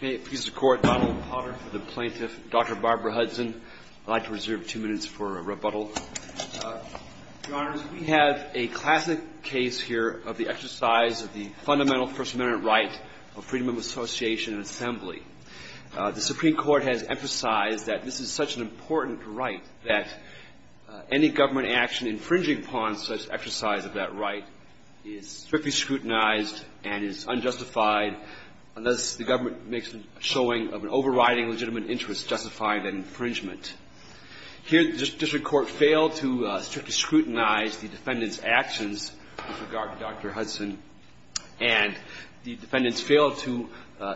The Supreme Court has emphasized that this is such an important right that any government action infringing upon such exercise of that right is strictly scrutinized and is unjustified unless the government makes a showing of an overriding legitimate interest justifying that infringement. Here, the district court failed to strictly scrutinize the defendant's actions with regard to Dr. Hudson, and the defendants failed to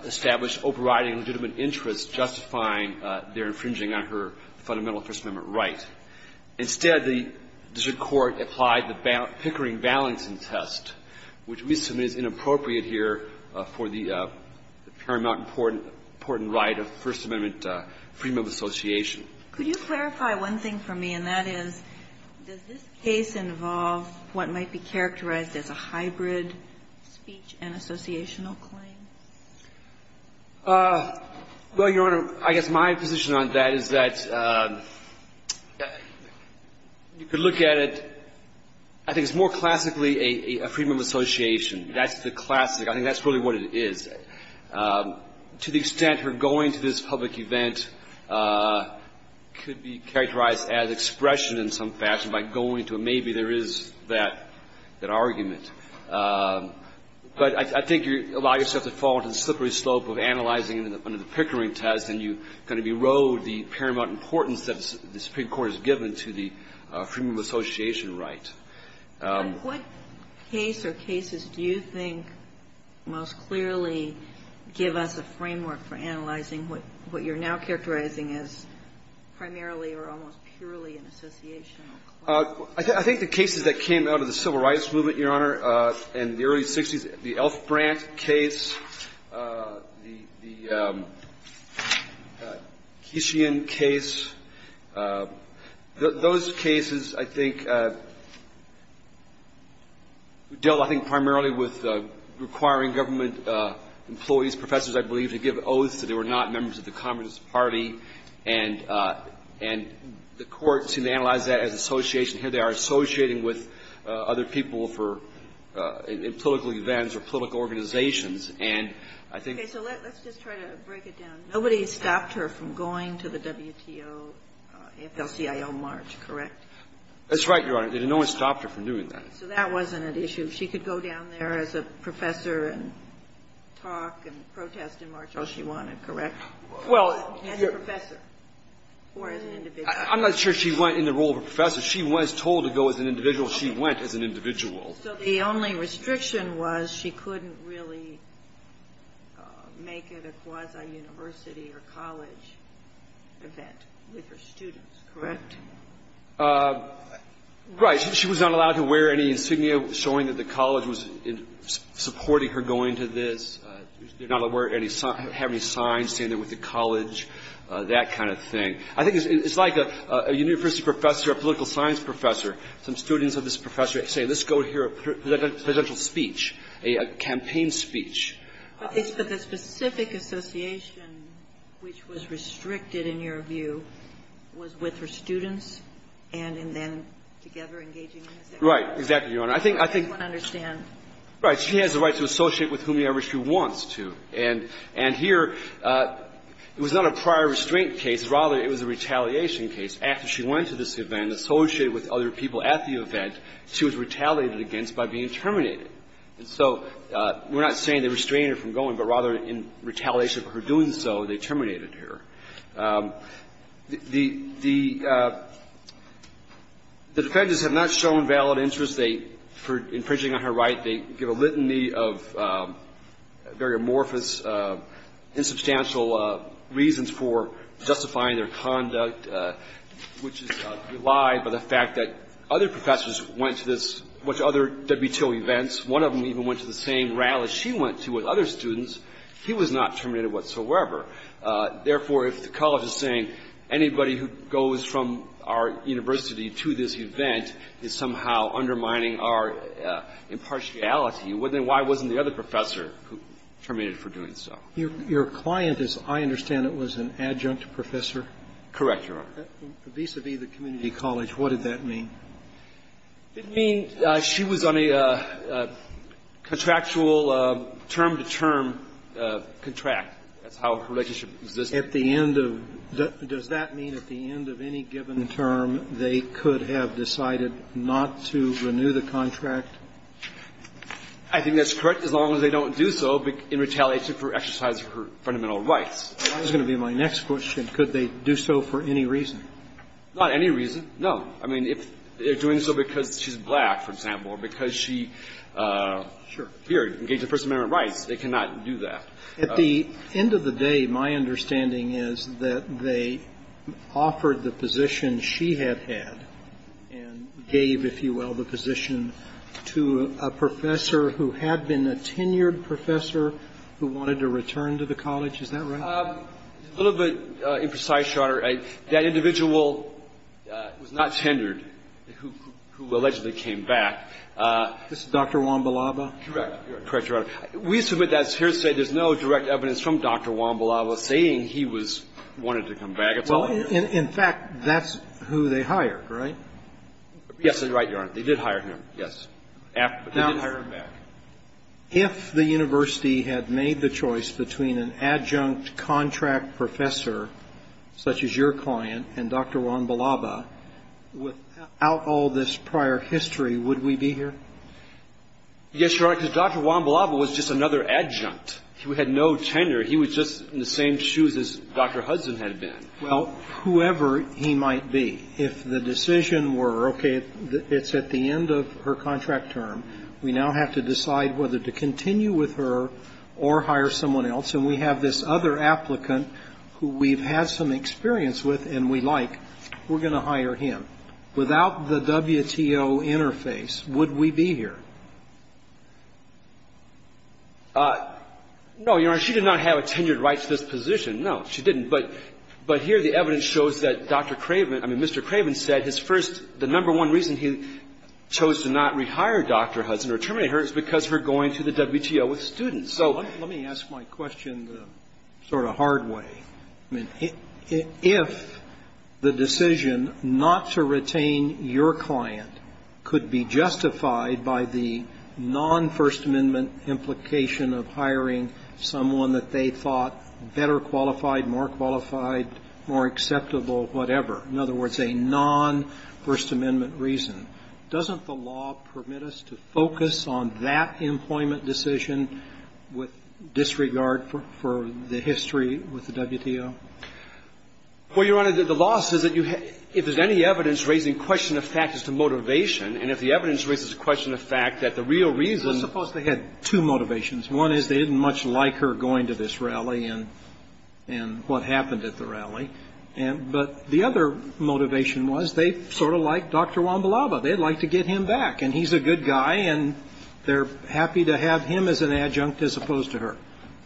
establish overriding legitimate interest justifying their infringing on her fundamental First Amendment right. Instead, the district court applied the Pickering-Valentin test, which we submit is inappropriate here, for the paramount and important right of First Amendment freedom of association. Could you clarify one thing for me, and that is, does this case involve what might be characterized as a hybrid speech and associational claim? Well, Your Honor, I guess my position on that is that you could look at it, I think it's more classically a freedom of association. That's the classic. I think that's really what it is. To the extent her going to this public event could be characterized as expression in some fashion by going to it, maybe there is that argument. But I think you allow yourself to fall into the slippery slope of analyzing under the Pickering test, and you kind of erode the paramount importance that the First Amendment freedom of association right. And what case or cases do you think most clearly give us a framework for analyzing what you're now characterizing as primarily or almost purely an associational claim? I think the cases that came out of the Civil Rights Movement, Your Honor, and the early Grant case, the Kishian case, those cases, I think, dealt, I think, primarily with requiring government employees, professors, I believe, to give oaths that they were not members of the Communist Party. And the court seemed to analyze that as association. Here they are associating with other people for political events or political organizations. And I think that's what we're trying to do here. Nobody stopped her from going to the WTO, AFL-CIO march, correct? That's right, Your Honor. No one stopped her from doing that. So that wasn't an issue. She could go down there as a professor and talk and protest and march all she wanted, correct? As a professor or as an individual? I'm not sure she went in the role of a professor. She was told to go as an individual. She went as an individual. So the only restriction was she couldn't really make it a quasi-university or college event with her students, correct? Right. She was not allowed to wear any insignia showing that the college was supporting her going to this. She did not have any signs saying that it was a college, that kind of thing. I think it's like a university professor, a political science professor, some students of this professor say, let's go hear a presidential speech, a campaign speech. But the specific association which was restricted, in your view, was with her students and then together engaging in this act? Right. Exactly, Your Honor. I think — I just want to understand. Right. She has the right to associate with whomever she wants to. And here, it was not a prior restraint case. Rather, it was a retaliation case. After she went to this event, associated with other people at the event, she was retaliated against by being terminated. And so we're not saying they restrained her from going, but rather in retaliation for her doing so, they terminated her. The defendants have not shown valid interest for infringing on her right. They give a litany of very amorphous, insubstantial Your client, as I understand it, was an adjunct professor? Vis-a-vis the community college, what did that mean? It meant she was on a contractual, term-to-term contract. That's how her relationship existed. At the end of — does that mean at the end of any given term, they could have decided not to renew the contract? I think that's correct, as long as they don't do so in retaliation for exercising her fundamental rights. That is going to be my next question. Could they do so for any reason? Not any reason, no. I mean, if they're doing so because she's black, for example, or because she appeared to engage in First Amendment rights, they cannot do that. At the end of the day, my understanding is that they offered the position she had had and gave, if you will, the position to a professor who had been a tenured professor who wanted to return to the college. Is that right? A little bit imprecise, Your Honor. That individual was not tenured, who allegedly came back. This is Dr. Wambalaba? Correct. Correct, Your Honor. We submit that, as Herr said, there's no direct evidence from Dr. Wambalaba saying he was — wanted to come back. It's all in here. Well, in fact, that's who they hired, right? Yes, that's right, Your Honor. They did hire him, yes. They did hire him back. If the university had made the choice between an adjunct contract professor, such as your client, and Dr. Wambalaba, without all this prior history, would we be here? Yes, Your Honor, because Dr. Wambalaba was just another adjunct who had no tenure. He was just in the same shoes as Dr. Hudson had been. Well, whoever he might be, if the decision were, okay, it's at the end of her contract term, we now have to decide whether to continue with her or hire someone else, and we have this other applicant who we've had some experience with and we like, we're going to hire him. Without the WTO interface, would we be here? No, Your Honor. She did not have a tenured right to this position. No, she didn't. But here the evidence shows that Dr. Craven — I mean, Mr. Craven said his first — the number one reason he chose to not rehire Dr. Hudson or terminate her is because of her going to the WTO with students. So let me ask my question the sort of hard way. I mean, if the decision not to retain your client could be justified by the non-First Amendment implication of hiring someone that they thought better qualified, more qualified, more acceptable, whatever, in other words, a non-First Amendment reason, doesn't the law permit us to focus on that employment decision with disregard for the history with the WTO? Well, Your Honor, the law says that you — if there's any evidence raising question of fact as to motivation, and if the evidence raises the question of fact that the real reason — Well, suppose they had two motivations. One is they didn't much like her going to this rally and what happened at the rally. But the other motivation was they sort of liked Dr. Wambalava. They'd like to get him back. And he's a good guy, and they're happy to have him as an adjunct as opposed to her.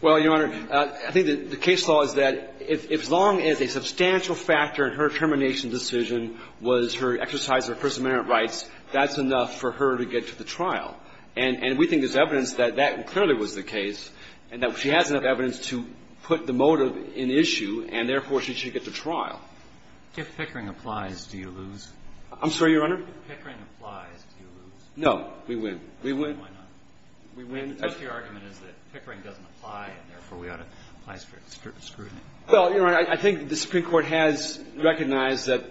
Well, Your Honor, I think the case law is that if — as long as a substantial factor in her termination decision was her exercise of First Amendment rights, that's enough for her to get to the trial. And we think there's evidence that that clearly was the case, and that she has enough to get to the trial. If Pickering applies, do you lose? I'm sorry, Your Honor? If Pickering applies, do you lose? No. We win. We win. Then why not? We win. I think your argument is that Pickering doesn't apply, and therefore, we ought to apply scrutiny. Well, Your Honor, I think the Supreme Court has recognized that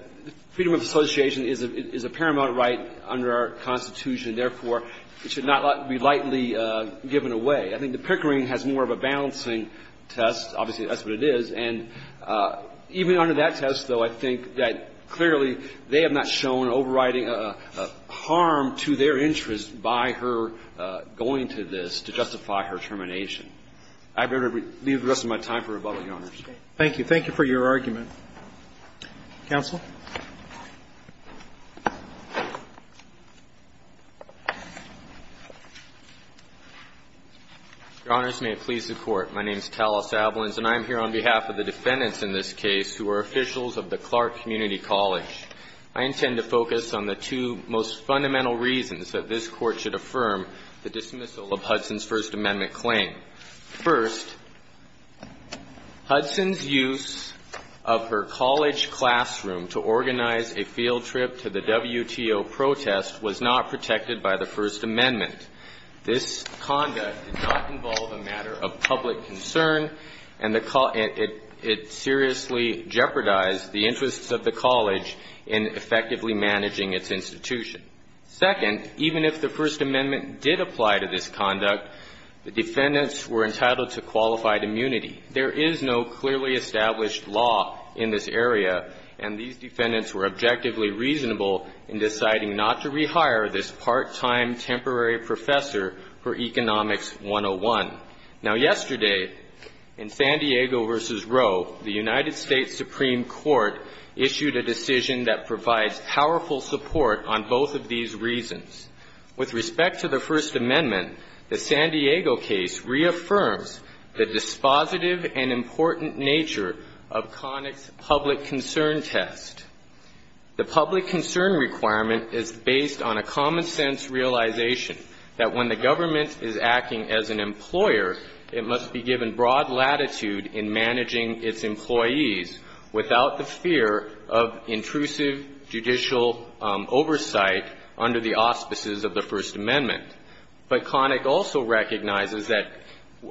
freedom of association is a — is a paramount right under our Constitution. Therefore, it should not be lightly given away. I think that Pickering has more of a balancing test. Obviously, that's what it is. And even under that test, though, I think that clearly they have not shown overriding harm to their interest by her going to this to justify her termination. I'd better leave the rest of my time for rebuttal, Your Honors. Thank you. Thank you for your argument. Counsel? Your Honors, may it please the Court. My name is Talos Ablins, and I am here on behalf of the defendants in this case who are officials of the Clark Community College. I intend to focus on the two most fundamental reasons that this Court should affirm the dismissal of Hudson's First Amendment claim. First, Hudson's use of her college classroom to organize a field trip to the WTO protest was not protected by the First Amendment. This conduct did not involve a matter of public concern, and it seriously jeopardized the interests of the college in effectively managing its institution. Second, even if the First Amendment did apply to this conduct, the defendants were entitled to qualified immunity. There is no clearly established law in this area, and these defendants were objectively reasonable in deciding not to rehire this part-time temporary professor for Economics 101. Now, yesterday, in San Diego v. Roe, the United States Supreme Court issued a decision that provides powerful support on both of these reasons. With respect to the First Amendment, the San Diego case reaffirms the dispositive and important nature of Connick's public concern test. The public concern requirement is based on a common-sense realization that when the government is acting as an employer, it must be given broad latitude in managing its employees without the fear of intrusive judicial oversight under the auspices of the First Amendment. But Connick also recognizes that,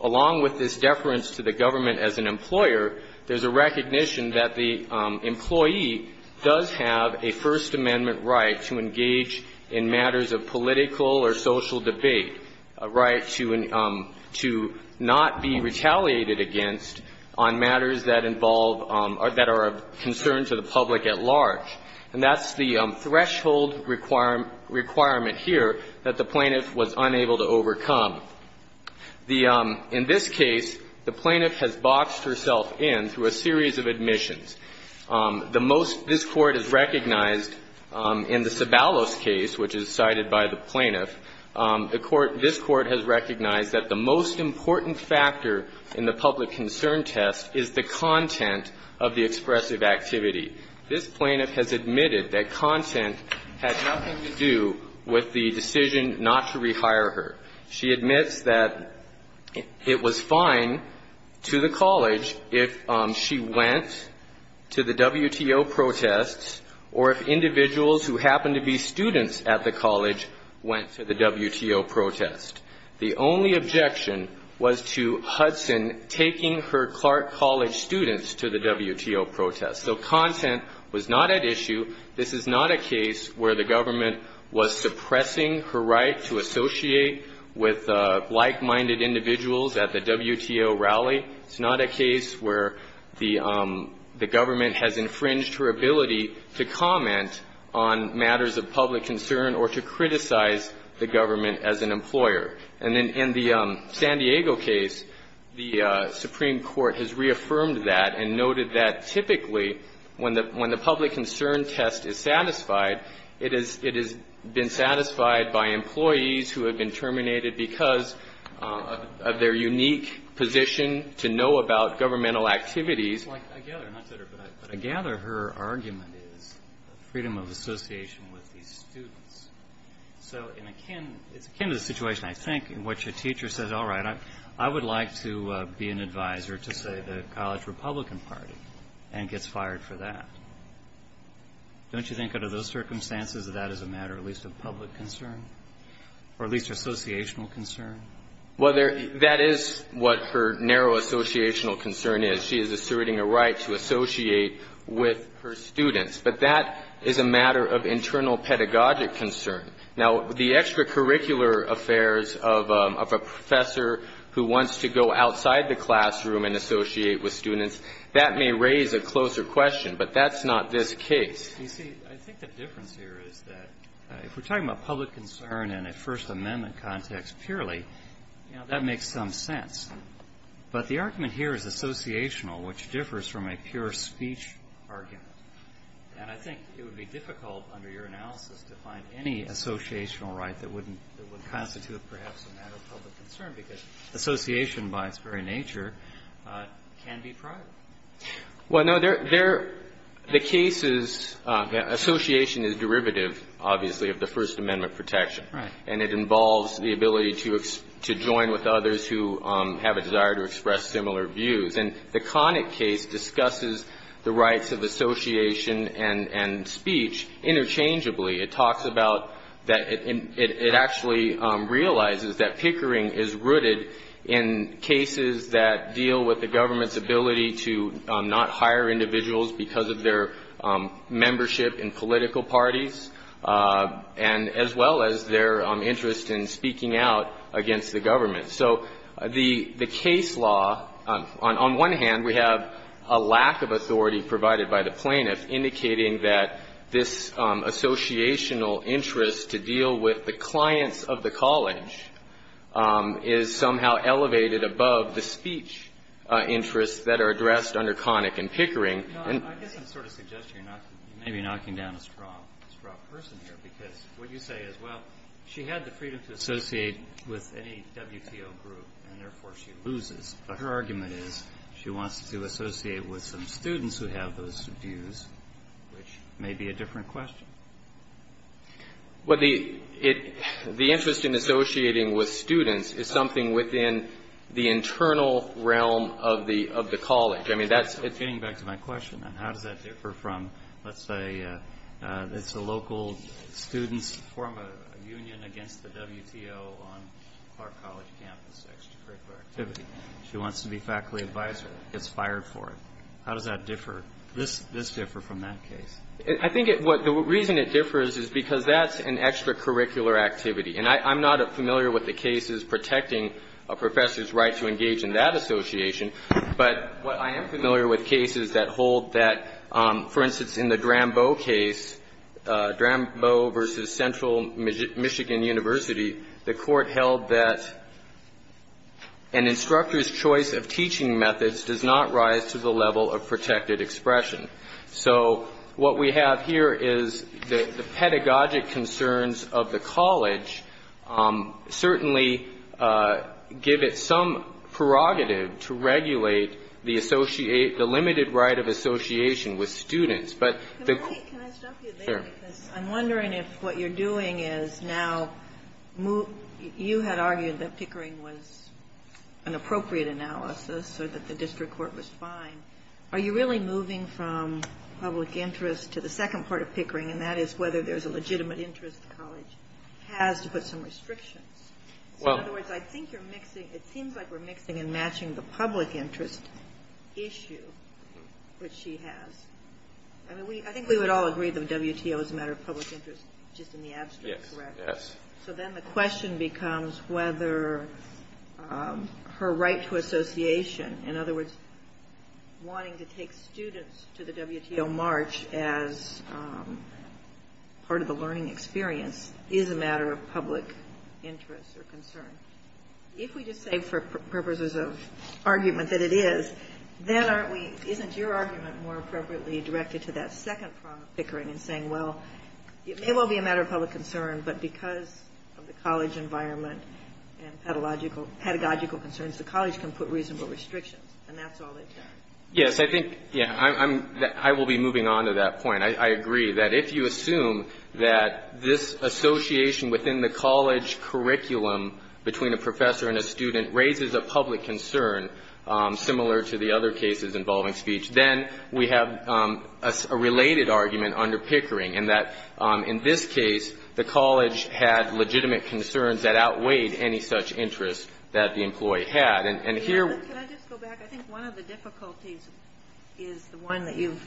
along with this deference to the government as an employer, there's a recognition that the employee does have a First Amendment right to engage in matters of political or social debate, a right to not be retaliated against on matters that involve or that are of concern to the public at large. And that's the threshold requirement here that the plaintiff was unable to overcome. The – in this case, the plaintiff has boxed herself in through a series of admissions. The most – this Court has recognized in the Sabalos case, which is cited by the plaintiff, the Court – this Court has recognized that the most important factor in the public concern test is the content of the expressive activity. This plaintiff has admitted that content had nothing to do with the decision not to rehire her. She admits that it was fine to the college if she went to the WTO protests or if individuals who happened to be students at the college went to the WTO protest. The only objection was to Hudson taking her Clark College students to the WTO protest. So content was not at issue. This is not a case where the government was suppressing her right to associate with like-minded individuals at the WTO rally. It's not a case where the government has infringed her ability to comment on matters of public concern or to criticize the government as an employer. And in the San Diego case, the Supreme Court has reaffirmed that and noted that typically when the public concern test is satisfied, it has been satisfied by employees who have been terminated because of their unique position to know about governmental activities. But I gather her argument is freedom of association with these students. So it's akin to the situation, I think, in which a teacher says, all right, I would like to be an advisor to, say, the College Republican Party and gets fired for that. Don't you think under those circumstances that that is a matter at least of public concern or at least associational concern? Well, that is what her narrow associational concern is. She is asserting a right to associate with her students. But that is a matter of internal pedagogic concern. Now, the extracurricular affairs of a professor who wants to go outside the classroom and associate with students, that may raise a closer question, but that's not this case. You see, I think the difference here is that if we're talking about public concern in a First Amendment context purely, you know, that makes some sense. But the argument here is associational, which differs from a pure speech argument. And I think it would be difficult under your analysis to find any associational right that wouldn't constitute perhaps a matter of public concern, because association by its very nature can be private. Well, no. The case is that association is derivative, obviously, of the First Amendment protection. Right. And it involves the ability to join with others who have a desire to express similar views. And the Connick case discusses the rights of association and speech interchangeably. It talks about that it actually realizes that pickering is rooted in cases that deal with the government's ability to not hire individuals because of their membership in political parties and as well as their interest in speaking out against the government. So the case law, on one hand, we have a lack of authority provided by the plaintiff indicating that this associational interest to deal with the clients of the college is somehow elevated above the speech interests that are addressed under Connick and pickering. And I guess I'm sort of suggesting you're not maybe knocking down a strong, strong person here, because what you say is, well, she had the freedom to associate with any WTO group, and therefore she loses. But her argument is she wants to associate with some students who have those views, which may be a different question. Well, the interest in associating with students is something within the internal realm of the college. I mean, that's... Getting back to my question, then, how does that differ from, let's say, it's a local student's form of union against the WTO on our college campus, extracurricular activity. She wants to be faculty advisor, gets fired for it. How does that differ? This differs from that case. I think the reason it differs is because that's an extracurricular activity. And I'm not familiar with the cases protecting a professor's right to engage in that association. But what I am familiar with cases that hold that, for instance, in the Graham-Bow case, Graham-Bow v. Central Michigan University, the Court held that an instructor's choice of teaching methods does not rise to the level of protected expression. So what we have here is the pedagogic concerns of the college certainly give it some prerogative to regulate the associate, the limited right of association with students. Can I stop you there, because I'm wondering if what you're doing is now, you had argued that Pickering was an appropriate analysis or that the district court was fine. Are you really moving from public interest to the second part of Pickering? And that is whether there's a legitimate interest the college has to put some restrictions. In other words, I think you're mixing, it seems like we're mixing and matching the public interest issue, which she has. I mean, we, I think we would all agree that WTO is a matter of public interest just in the abstract, correct? Yes. So then the question becomes whether her right to association, in other words, wanting to take students to the WTO march as part of the learning experience is a matter of public interest or concern. If we just say for purposes of argument that it is, then aren't we, isn't your argument more appropriately directed to that second part of Pickering in saying, well, it may well be a matter of public concern, but because of the college environment and pedagogical concerns, the college can put reasonable restrictions and that's all they've done. Yes. I think, yeah, I will be moving on to that point. I agree that if you assume that this association within the college curriculum between a professor and a student raises a public concern similar to the other cases involving speech, then we have a related argument under Pickering and that in this case, the college had legitimate concerns that outweighed any such interest that the employee had. And here... Can I just go back? I think one of the difficulties is the one that you've,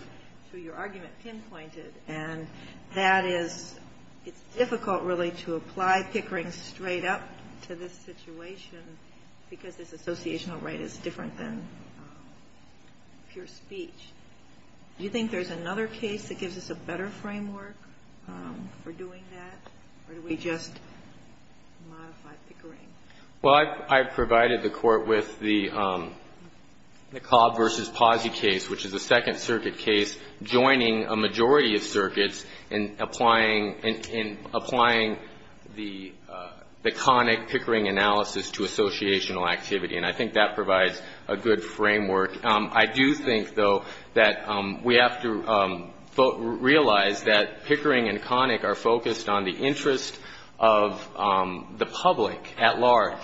through your argument, pinpointed, and that is it's difficult really to apply Pickering straight up to this situation because this associational right is different than... ...pure speech. Do you think there's another case that gives us a better framework for doing that? Or do we just modify Pickering? Well, I provided the Court with the Cobb v. Posse case, which is a Second Circuit case, joining a majority of circuits in applying the conic Pickering analysis to associational activity. And I think that provides a good framework. I do think, though, that we have to realize that Pickering and conic are focused on the interest of the public at large.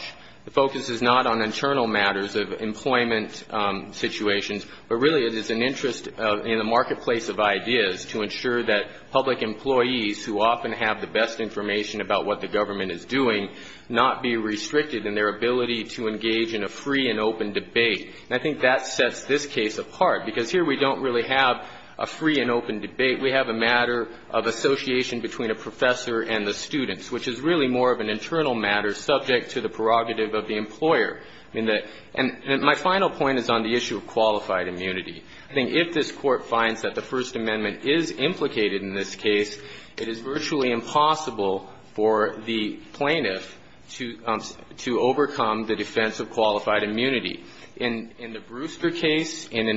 The focus is not on internal matters of employment situations, but really it is an interest in the marketplace of ideas to ensure that public employees who often have the best information about what the government is doing not be restricted in their ability to engage in a free and open debate. And I think that sets this case apart because here we don't really have a free and open debate. We have a matter of association between a professor and the students, which is really more of an internal matter subject to the prerogative of the employer. And my final point is on the issue of qualified immunity. I think if this Court finds that the First Amendment is implicated in this case, it is virtually impossible for the plaintiff to overcome the defense of qualified immunity. In the Brewster case and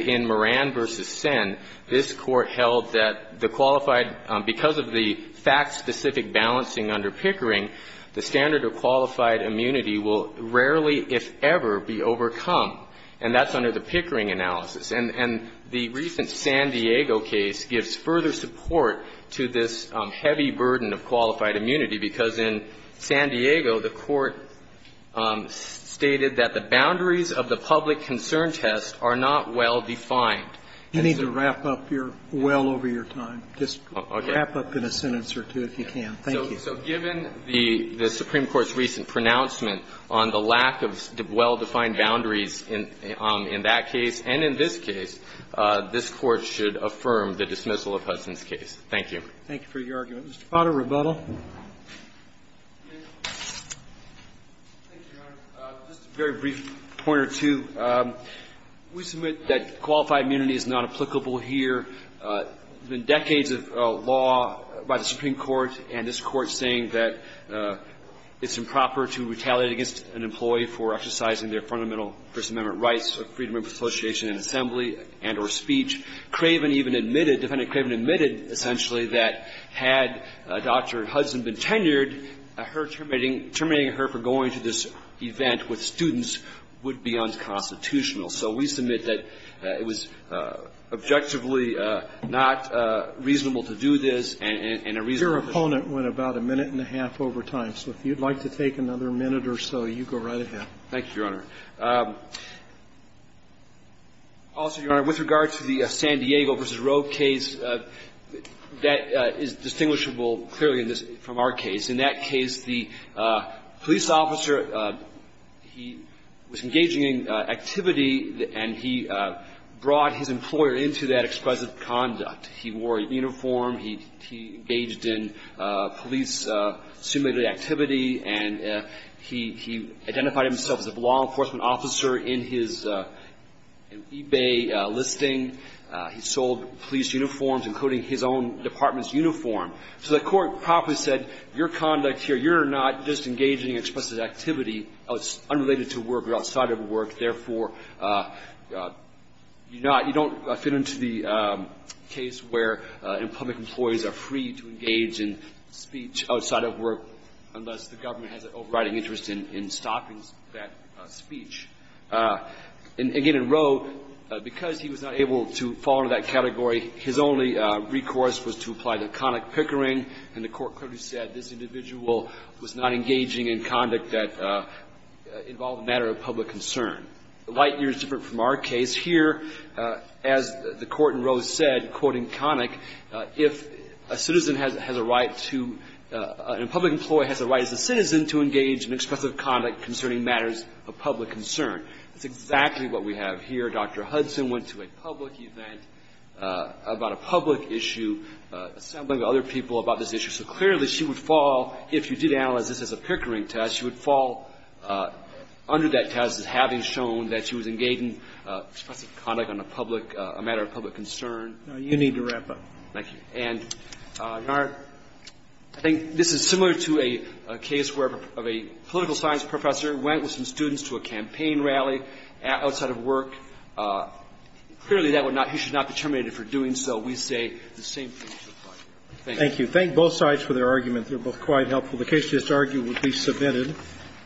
in Moran v. Senn, this Court held that the qualified, because of the fact-specific balancing under Pickering, the standard of qualified immunity will rarely, if ever, be overcome. And that's under the Pickering analysis. And the recent San Diego case gives further support to this heavy burden of qualified immunity. The boundaries of the public concern test are not well-defined. You need to wrap up your well over your time. Just wrap up in a sentence or two, if you can. Thank you. So given the Supreme Court's recent pronouncement on the lack of well-defined boundaries in that case and in this case, this Court should affirm the dismissal of Hudson's case. Thank you. Thank you for your argument. Mr. Potter, rebuttal. Thank you, Your Honor. Just a very brief point or two. We submit that qualified immunity is not applicable here. There have been decades of law by the Supreme Court and this Court saying that it's improper to retaliate against an employee for exercising their fundamental First Amendment rights of freedom of association and assembly and or speech. Craven even admitted, Defendant Craven admitted, essentially, that had Dr. Hudson been tenured, her terminating her for going to this event with students would be unconstitutional. So we submit that it was objectively not reasonable to do this and a reasonable Your opponent went about a minute and a half over time. So if you'd like to take another minute or so, you go right ahead. Thank you, Your Honor. Also, Your Honor, with regard to the San Diego v. Roe case, that is distinguishable clearly from our case. In that case, the police officer, he was engaging in activity and he brought his employer into that exquisite conduct. He wore a uniform. He engaged in police-assumed activity. And he identified himself as a law enforcement officer in his eBay listing. He sold police uniforms, including his own department's uniform. So the court properly said, your conduct here, you're not just engaging in explicit activity unrelated to work or outside of work. Therefore, you're not you don't fit into the case where public employees are free to engage in speech outside of work unless the government has an overriding interest in stopping that speech. And again, in Roe, because he was not able to fall into that category, his only recourse was to apply the Connick Pickering, and the court clearly said this individual was not engaging in conduct that involved a matter of public concern. Light years different from our case. Here, as the court in Roe said, quoting Connick, if a citizen has a right to a public employee has a right as a citizen to engage in expressive conduct concerning matters of public concern. That's exactly what we have here. Dr. Hudson went to a public event about a public issue, assembling other people about this issue. So clearly, she would fall, if you did analyze this as a Pickering test, she would fall under that test as having shown that she was engaging in expressive conduct on a public, a matter of public concern. Sotomayor, you need to wrap up. Thank you. And, Your Honor, I think this is similar to a case where a political science professor went with some students to a campaign rally outside of work. Clearly, that would not be he should not be terminated for doing so. We say the same thing. Thank you. Thank you. Thank both sides for their argument. They were both quite helpful. The case to this argument would be submitted.